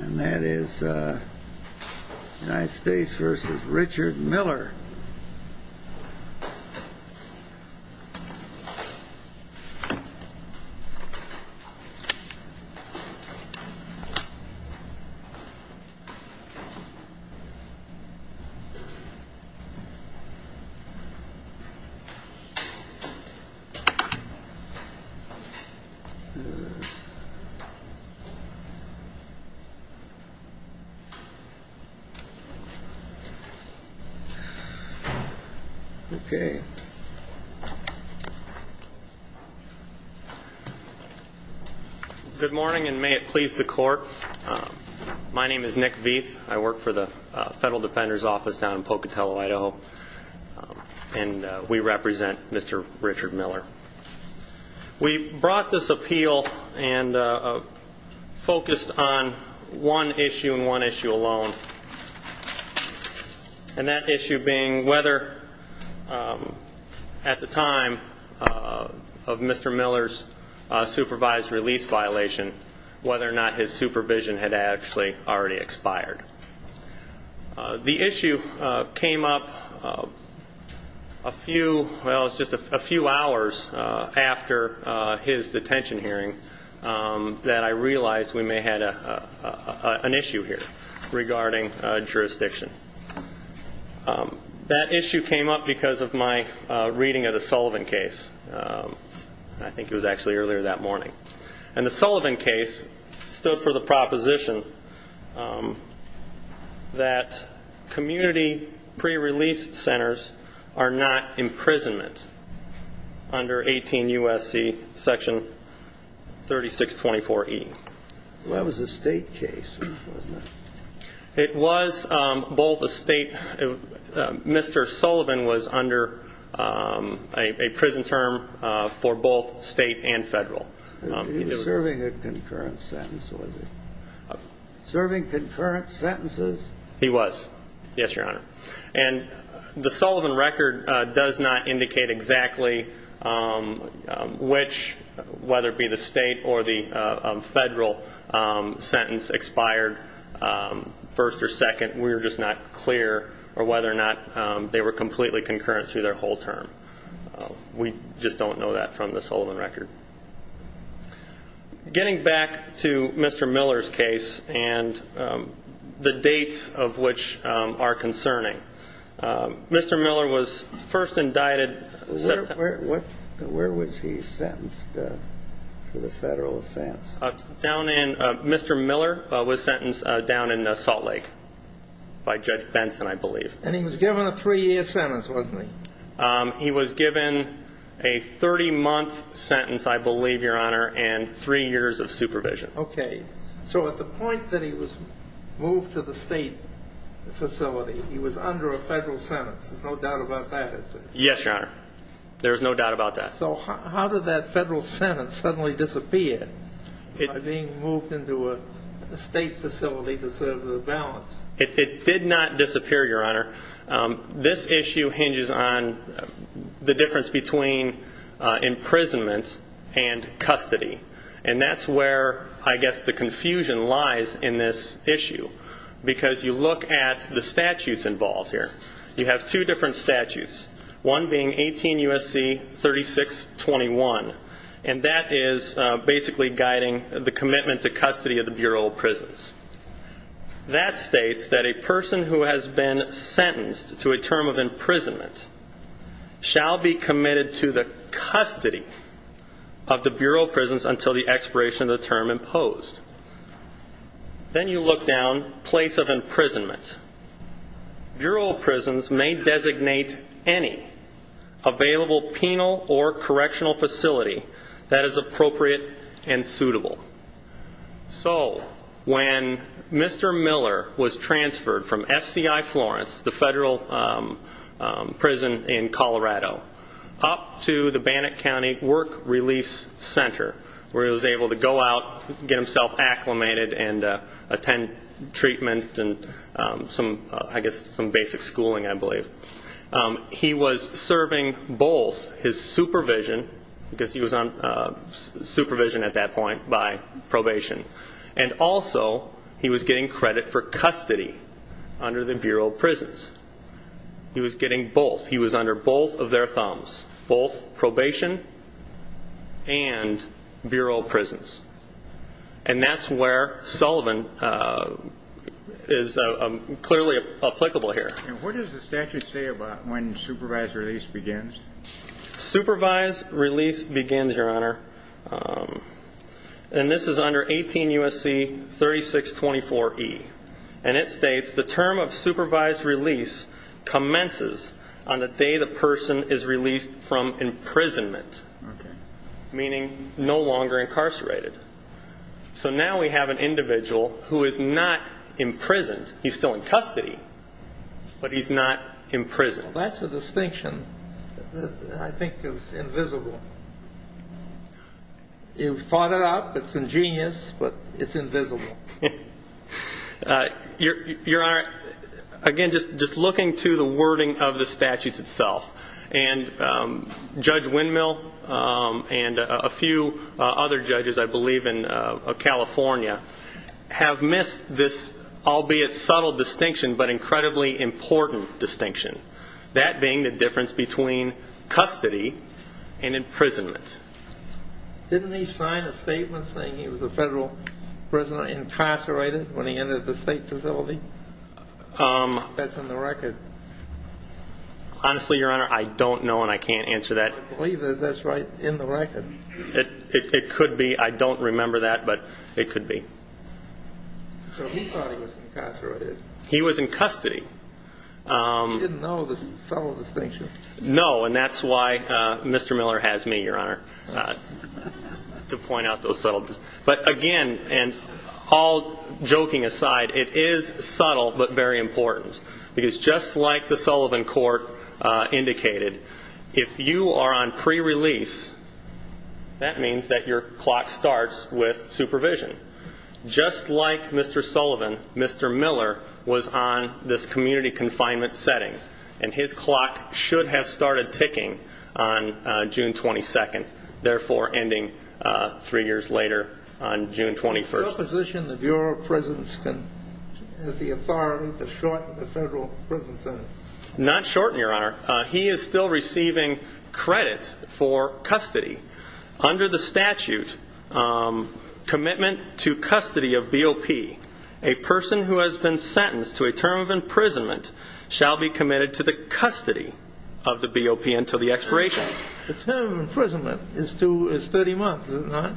And that is United States v. Richard Miller. Good morning and may it please the court. My name is Nick Veith. I work for the Federal Defender's Office down in Pocatello, Idaho. And we represent Mr. Richard Miller. We brought this appeal and focused on one issue and one issue alone. And that issue being whether at the time of Mr. Miller's supervised release violation, whether or not his supervision had actually already expired. The issue came up a few, well it was just a few hours after his detention hearing that I realized we may have an issue here regarding jurisdiction. That issue came up because of my reading of the Sullivan case. I think it was actually earlier that morning. And the that community pre-release centers are not imprisonment under 18 U.S.C. section 3624E. Well that was a state case, wasn't it? It was both a state, Mr. Sullivan was under a prison term for both state and federal. He was serving a concurrent sentence, was he? Serving concurrent sentences? He was, yes, your honor. And the Sullivan record does not indicate exactly which, whether it be the state or the federal, sentence expired first or second. We're just not clear or whether or not they were completely concurrent through their whole term. We just don't know that from the Getting back to Mr. Miller's case and the dates of which are concerning. Mr. Miller was first indicted. Where was he sentenced for the federal offense? Mr. Miller was sentenced down in Salt Lake by Judge Benson, I believe. And he was given a three-year sentence, wasn't he? He was given a 30-month sentence, I believe, your honor, and three years of supervision. Okay, so at the point that he was moved to the state facility, he was under a federal sentence. There's no doubt about that, is there? Yes, your honor. There's no doubt about that. So how did that federal sentence suddenly disappear by being moved into a state facility to serve the balance? It did not disappear, your honor. This issue hinges on the difference between imprisonment and custody. And that's where I guess the confusion lies in this issue. Because you look at the statutes involved here. You have two different statutes, one being 18 U.S.C. 3621. And that is basically guiding the commitment to prison. A person sentenced to a term of imprisonment shall be committed to the custody of the Bureau of Prisons until the expiration of the term imposed. Then you look down place of imprisonment. Bureau of Prisons may designate any available penal or correctional facility that is appropriate and suitable. So when Mr. Miller was transferred from FCI Florence, the federal prison in Colorado, up to the Bannock County Work Release Center, where he was able to go out, get himself acclimated, and attend treatment and I guess some basic schooling, I believe. He was serving both his supervision, because he was on supervision at that point by probation, and also he was getting credit for custody under the Bureau of Prisons. He was getting both. He was under both of their thumbs. Both probation and Bureau of Prisons. And that's where Sullivan is clearly applicable here. And what does the statute say about when supervised release begins? Supervised release begins, Your Honor. And this is under 18 U.S.C. 3624E. And it states, the term of supervised release commences on the day the person is released from imprisonment, meaning no longer incarcerated. So now we have an individual who is not imprisoned. He's still in custody, but he's not imprisoned. That's a distinction that I think is invisible. You've thought it up. It's ingenious, but it's invisible. Your Honor, again, just looking to the wording of the statutes itself, and Judge Windmill and a few other judges, I believe, in California have missed this, albeit subtle distinction, but incredibly important distinction. That being the difference between custody and imprisonment. Didn't he sign a statement saying he was a federal prisoner, incarcerated, when he entered the state facility? That's in the record. Honestly, Your Honor, I don't know, and I can't answer that. I believe that that's right in the record. It could be. I don't remember that, but it could be. So he thought he was incarcerated. He was in custody. He didn't know the subtle distinction. No, and that's why Mr. Miller has me, Your Honor, to point out those subtleties. But again, and all joking aside, it is subtle, but very important. Because just like the Sullivan court indicated, if you are on pre-release, that means that your clock starts with supervision. Just like Mr. Sullivan, Mr. Miller was on this community confinement setting, and his clock should have started ticking on June 22nd, therefore ending three years later on June 21st. What position of your presence has the authority to shorten the federal prison sentence? Not shorten, Your Honor. He is still receiving credit for custody. Under the statute, commitment to custody of BOP, a person who has been sentenced to a term of imprisonment shall be committed to the custody of the BOP until the expiration. The term of imprisonment is 30 months, is it not?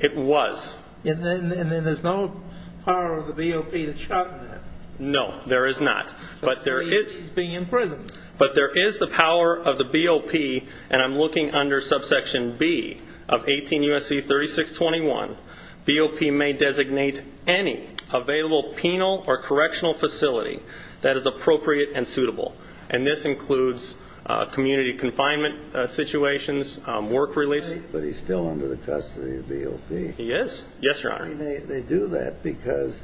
It was. And there's no power of the BOP to shorten that? No, there is not. But the BOP is being imprisoned. But there is the power of the BOP, and I'm looking under subsection B of 18 U.S.C. 3621, BOP may designate any available penal or correctional facility that is appropriate and suitable. And this includes community confinement situations, work release. But he's still under the custody of BOP? Yes. Yes, Your Honor. They do that because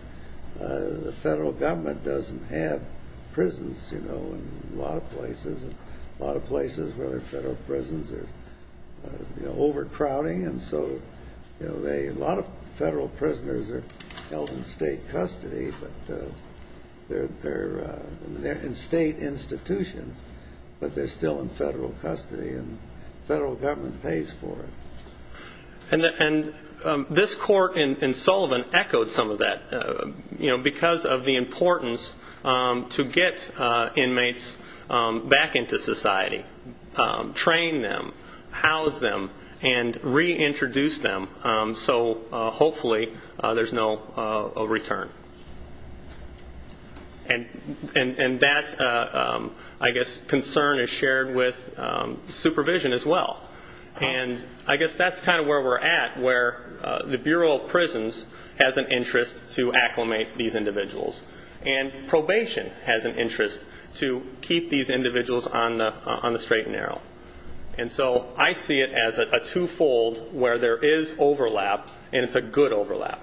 the federal government doesn't have prisons, you know, in a lot of places. And a lot of places where there are federal prisons are overcrowding. And so, you know, a lot of federal prisoners are held in state custody. But they're in state institutions, but they're still in federal custody and federal government pays for it. And this court in Sullivan echoed some of that, you know, because of the importance to get inmates back into society, train them, house them, and reintroduce them. So hopefully there's no return. And that, I guess, concern is shared with supervision as well. And I guess that's kind of where we're at, where the Bureau of Prisons has an interest to acclimate these individuals. And probation has an interest to keep these individuals on the straight and narrow. And so I see it as a twofold where there is overlap, and it's a good overlap.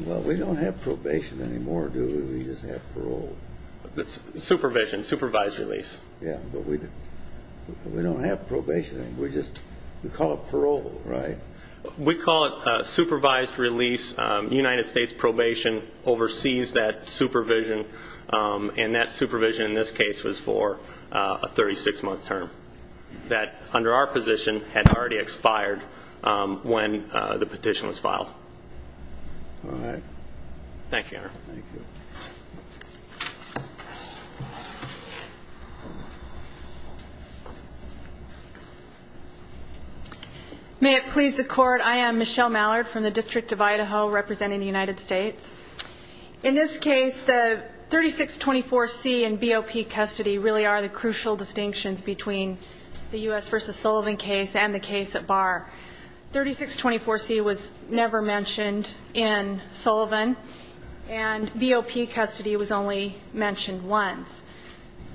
Well, we don't have probation anymore, do we? We just have parole. Supervision, supervised release. Yeah, but we don't have probation. We just, we call it parole, right? We call it supervised release. United States probation oversees that supervision. And that supervision, in this case, was for a 36-month term that, under our position, had already expired when the petition was filed. All right. Thank you, Honor. Thank you. May it please the Court, I am Michelle Mallard from the District of Idaho, representing the United States. In this case, the 3624C and BOP custody really are the crucial distinctions between the U.S. v. Sullivan case and the case at Barr. 3624C was never mentioned in Sullivan, and BOP custody was only mentioned once.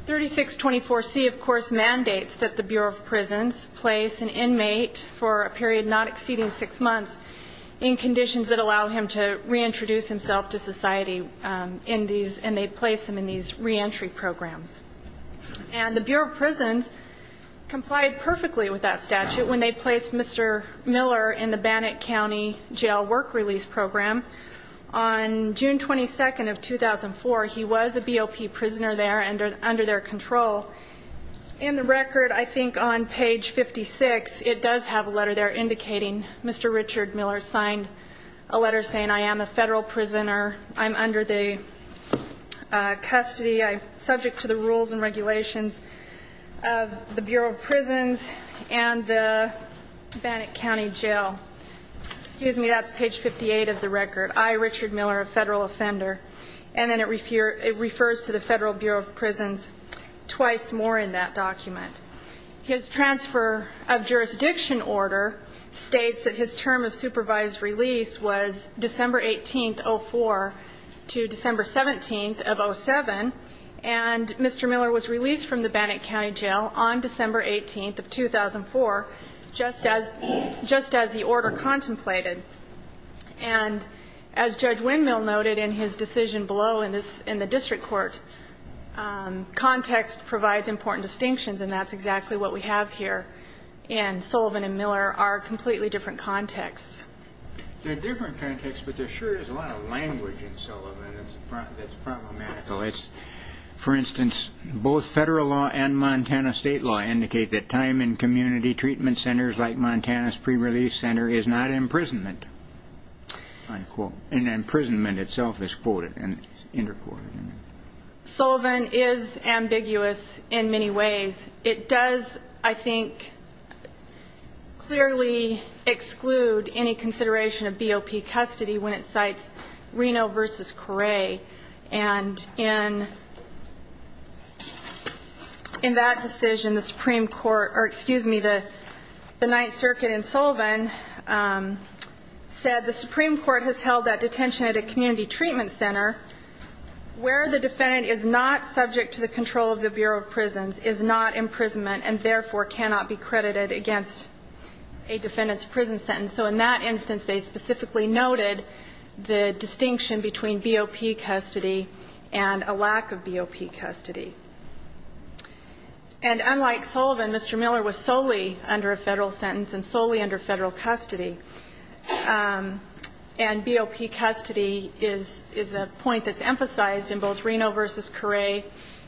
3624C, of course, mandates that the Bureau of Prisons place an inmate for a period not exceeding six months in conditions that allow him to reintroduce himself to society in these, and they place them in these reentry programs. And the Bureau of Prisons complied perfectly with that statute when they placed Mr. Miller in the Bannock County jail work release program. On June 22nd of 2004, he was a BOP prisoner there under their control. In the record, I think on page 56, it does have a letter there indicating Mr. Richard Miller signed a letter saying, I am a federal prisoner. I'm under the custody, subject to the rules and regulations of the Bureau of Prisons and the Bannock County jail. Excuse me, that's page 58 of the record. I, Richard Miller, a federal offender. And then it refers to the Federal Bureau of Prisons twice more in that document. His transfer of jurisdiction order states that his term of supervised release was December 18th, 2004 to December 17th of 2007, and Mr. Miller was released from the Bannock County jail on December 18th of 2004, just as the order contemplated. And as Judge Windmill noted in his decision below in the district court, context provides important distinctions, and that's exactly what we have here. And Sullivan and Miller are completely different contexts. They're different contexts, but there sure is a lot of language in Sullivan that's problematical. For instance, both federal law and Montana state law indicate that time in community treatment centers like Montana's pre-release center is not imprisonment. And imprisonment itself is quoted and interquoted. Sullivan is ambiguous in many ways. It does, I think, clearly exclude any consideration of BOP custody when it cites Reno versus And in that decision, the Supreme Court, or excuse me, the Ninth Circuit in Sullivan said the Supreme Court has held that detention at a community treatment center where the defendant is not subject to the control of the Bureau of Prisons, is not imprisonment, and therefore cannot be credited against a defendant's prison sentence. So in that instance, they specifically noted the distinction between BOP custody and a lack of BOP custody. And unlike Sullivan, Mr. Miller was solely under a federal sentence and solely under federal custody. And BOP custody is a point that's emphasized in both Reno v. Corre,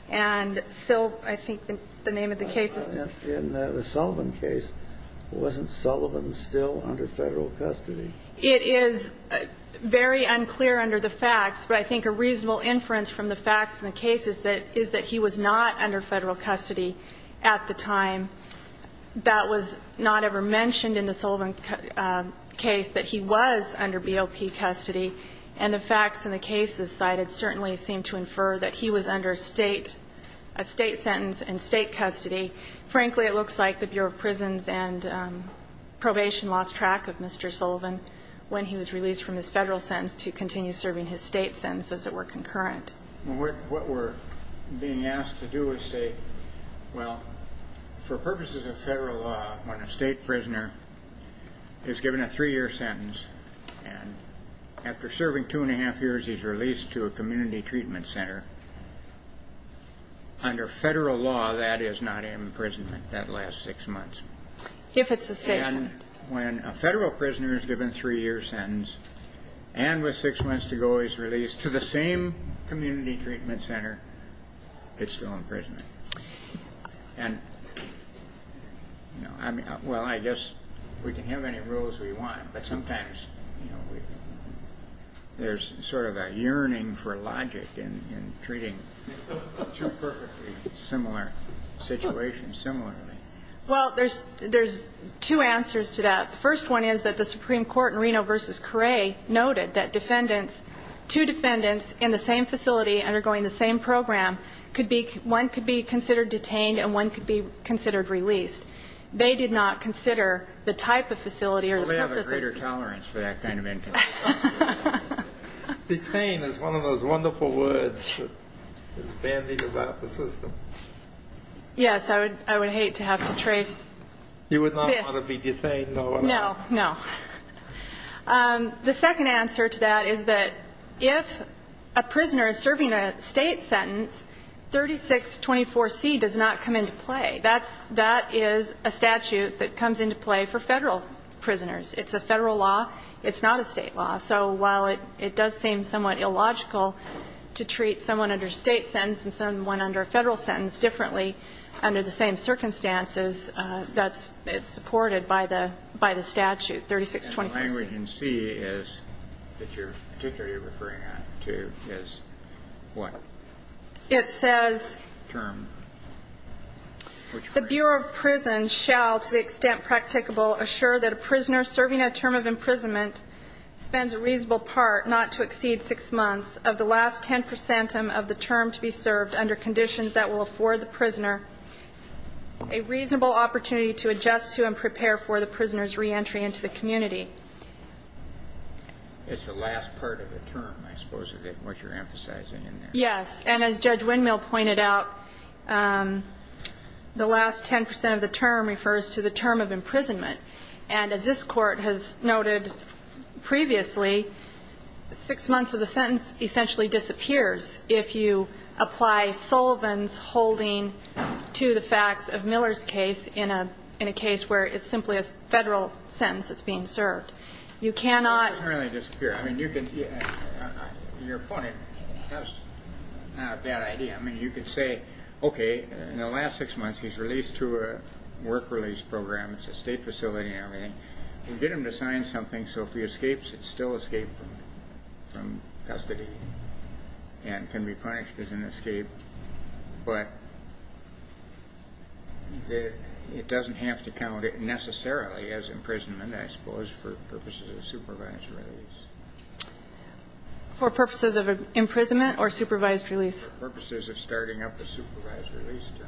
and so I think the name of the case is In the Sullivan case, wasn't Sullivan still under federal custody? It is very unclear under the facts, but I think a reasonable inference from the facts in the case is that he was not under federal custody at the time. That was not ever mentioned in the Sullivan case, that he was under BOP custody, and the facts in the case cited certainly seem to infer that he was under a state sentence and state custody. Frankly, it looks like the Bureau of Prisons and probation lost track of Mr. Sullivan when he was released from his federal sentence to continue serving his state sentence as it were concurrent. What we're being asked to do is say, well, for purposes of federal law, when a state prisoner is given a three-year sentence, and after serving two and a half years, he's released to a community treatment center. Under federal law, that is not imprisonment, that lasts six months. If it's a state sentence. And when a federal prisoner is given a three-year sentence, and with six months to go, he's released to the same community treatment center, it's still imprisonment. And, you know, I mean, well, I guess we can have any rules we want, but sometimes, you know, there's sort of a yearning for logic in treating two perfectly similar situations similarly. Well, there's two answers to that. The first one is that the Supreme Court in Reno v. Corre noted that defendants, two defendants in the same facility undergoing the same program could be, one could be considered detained and one could be considered released. They did not consider the type of facility or the purpose of the facility. I'm sorry for that kind of input. Detained is one of those wonderful words that is bandied about the system. Yes, I would hate to have to trace. You would not want to be detained, no or no? No, no. The second answer to that is that if a prisoner is serving a state sentence, 3624C does not come into play. That is a statute that comes into play for federal prisoners. It's a federal law. It's not a state law. So while it does seem somewhat illogical to treat someone under a state sentence and someone under a federal sentence differently under the same circumstances, that's supported by the statute, 3624C. And the language in C is that you're particularly referring to is what? It says the Bureau of Prisons shall to the extent practicable assure that a prisoner serving a term of imprisonment spends a reasonable part, not to exceed six months, of the last 10 percent of the term to be served under conditions that will afford the prisoner a reasonable opportunity to adjust to and prepare for the prisoner's reentry into the community. It's the last part of the term, I suppose, is what you're emphasizing in there. Yes. And as Judge Windmill pointed out, the last 10 percent of the term refers to the term of imprisonment. And as this Court has noted previously, six months of the sentence essentially disappears if you apply Sullivan's holding to the facts of Miller's case in a case where it's simply a federal sentence that's being served. You cannot – It doesn't really disappear. I mean, you can – you're pointing – that's not a bad idea. I mean, you could say, okay, in the last six months, he's released to a work release program. It's a state facility and everything. We get him to sign something so if he escapes, it's still escape from custody and can be punished as an escape. But it doesn't have to count necessarily as imprisonment, I suppose, for purposes of supervised release. For purposes of imprisonment or supervised release? For purposes of starting up a supervised release term.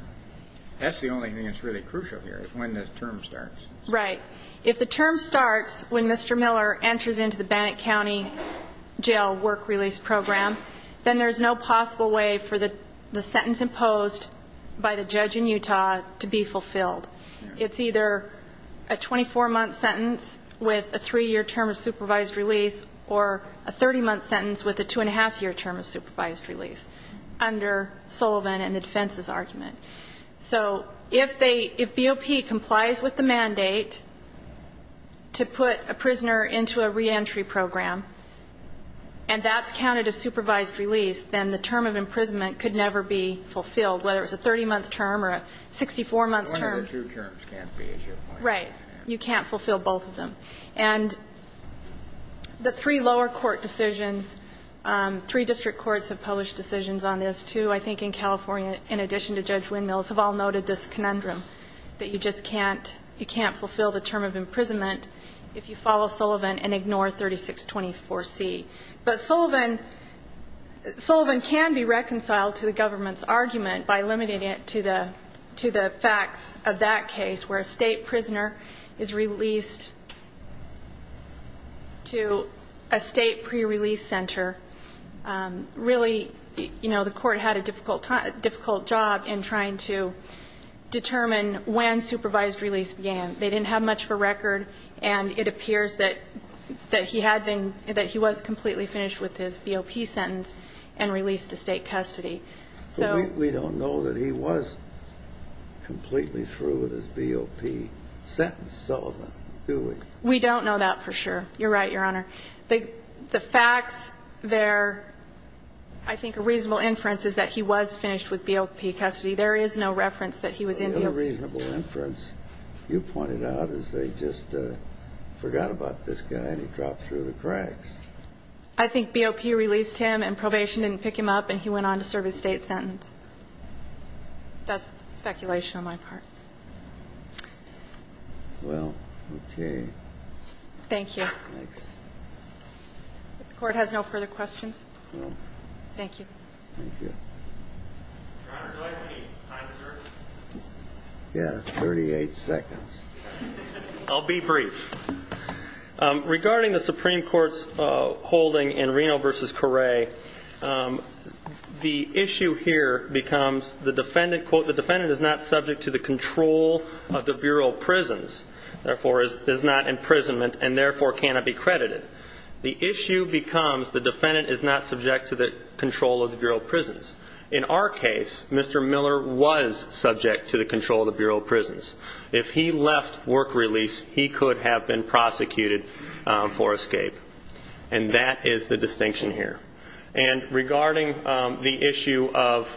That's the only thing that's really crucial here is when the term starts. Right. If the term starts when Mr. Miller enters into the Bannock County jail work release program, then there's no possible way for the sentence imposed by the judge in Utah to be fulfilled. It's either a 24-month sentence with a three-year term of supervised release or a 30-month sentence with a two-and-a-half-year term of supervised release under Sullivan and the defense's argument. So if BOP complies with the mandate to put a prisoner into a reentry program and that's counted as supervised release, then the term of imprisonment could never be fulfilled, whether it's a 30-month term or a 64-month term. One of the two terms can't be issued. Right. You can't fulfill both of them. And the three lower court decisions, three district courts have published decisions on this, too, I think, in California, in addition to Judge Windmills, have all noted this conundrum that you just can't fulfill the term of imprisonment if you follow Sullivan and ignore 3624C. But Sullivan can be reconciled to the government's argument by limiting it to the facts of that case where a state prisoner is released to a state pre-release center. Really, you know, the Court had a difficult job in trying to determine when supervised release began. They didn't have much of a record, and it appears that he had been – that he was completely finished with his BOP sentence and released to state custody. So we don't know that he was completely through with his BOP sentence, Sullivan, do we? We don't know that for sure. You're right, Your Honor. The facts there, I think a reasonable inference is that he was finished with BOP custody. There is no reference that he was in BOP. The only reasonable inference you pointed out is they just forgot about this guy, and he dropped through the cracks. I think BOP released him, and probation didn't pick him up, and he went on to serve his state sentence. That's speculation on my part. Well, okay. Thank you. Thanks. If the Court has no further questions? No. Thank you. Thank you. Your Honor, do I have any time reserved? Yeah, 38 seconds. I'll be brief. Regarding the Supreme Court's holding in Reno v. Correa, the issue here becomes the therefore is not imprisonment, and therefore cannot be credited. The issue becomes the defendant is not subject to the control of the Bureau of Prisons. In our case, Mr. Miller was subject to the control of the Bureau of Prisons. If he left work release, he could have been prosecuted for escape. And that is the distinction here. And regarding the issue of,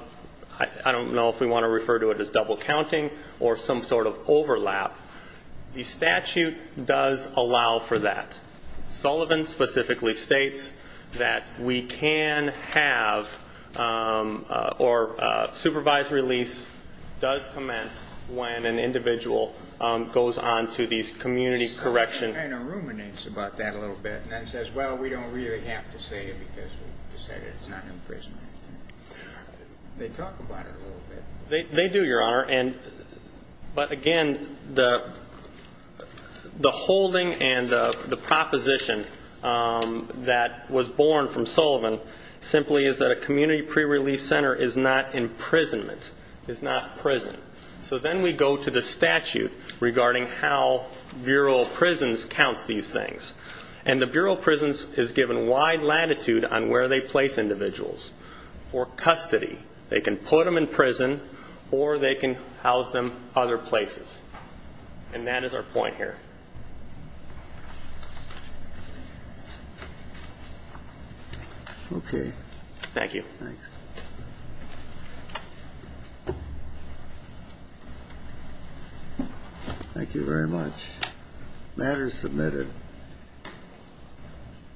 I don't know if we want to refer to it as double counting or some sort of overlap, the statute does allow for that. Sullivan specifically states that we can have, or supervised release does commence when an individual goes on to these community correction... Sullivan kind of ruminates about that a little bit, and then says, well, we don't really have to say it because we've decided it's not imprisonment. They talk about it a little bit. They do, Your Honor. And, but again, the holding and the proposition that was born from Sullivan simply is that a community pre-release center is not imprisonment, is not prison. So then we go to the statute regarding how Bureau of Prisons counts these things. And the Bureau of Prisons is given wide latitude on where they place individuals for custody. They can put them in prison or they can house them other places. And that is our point here. Okay. Thank you. Thanks. Thank you very much. Matter is submitted.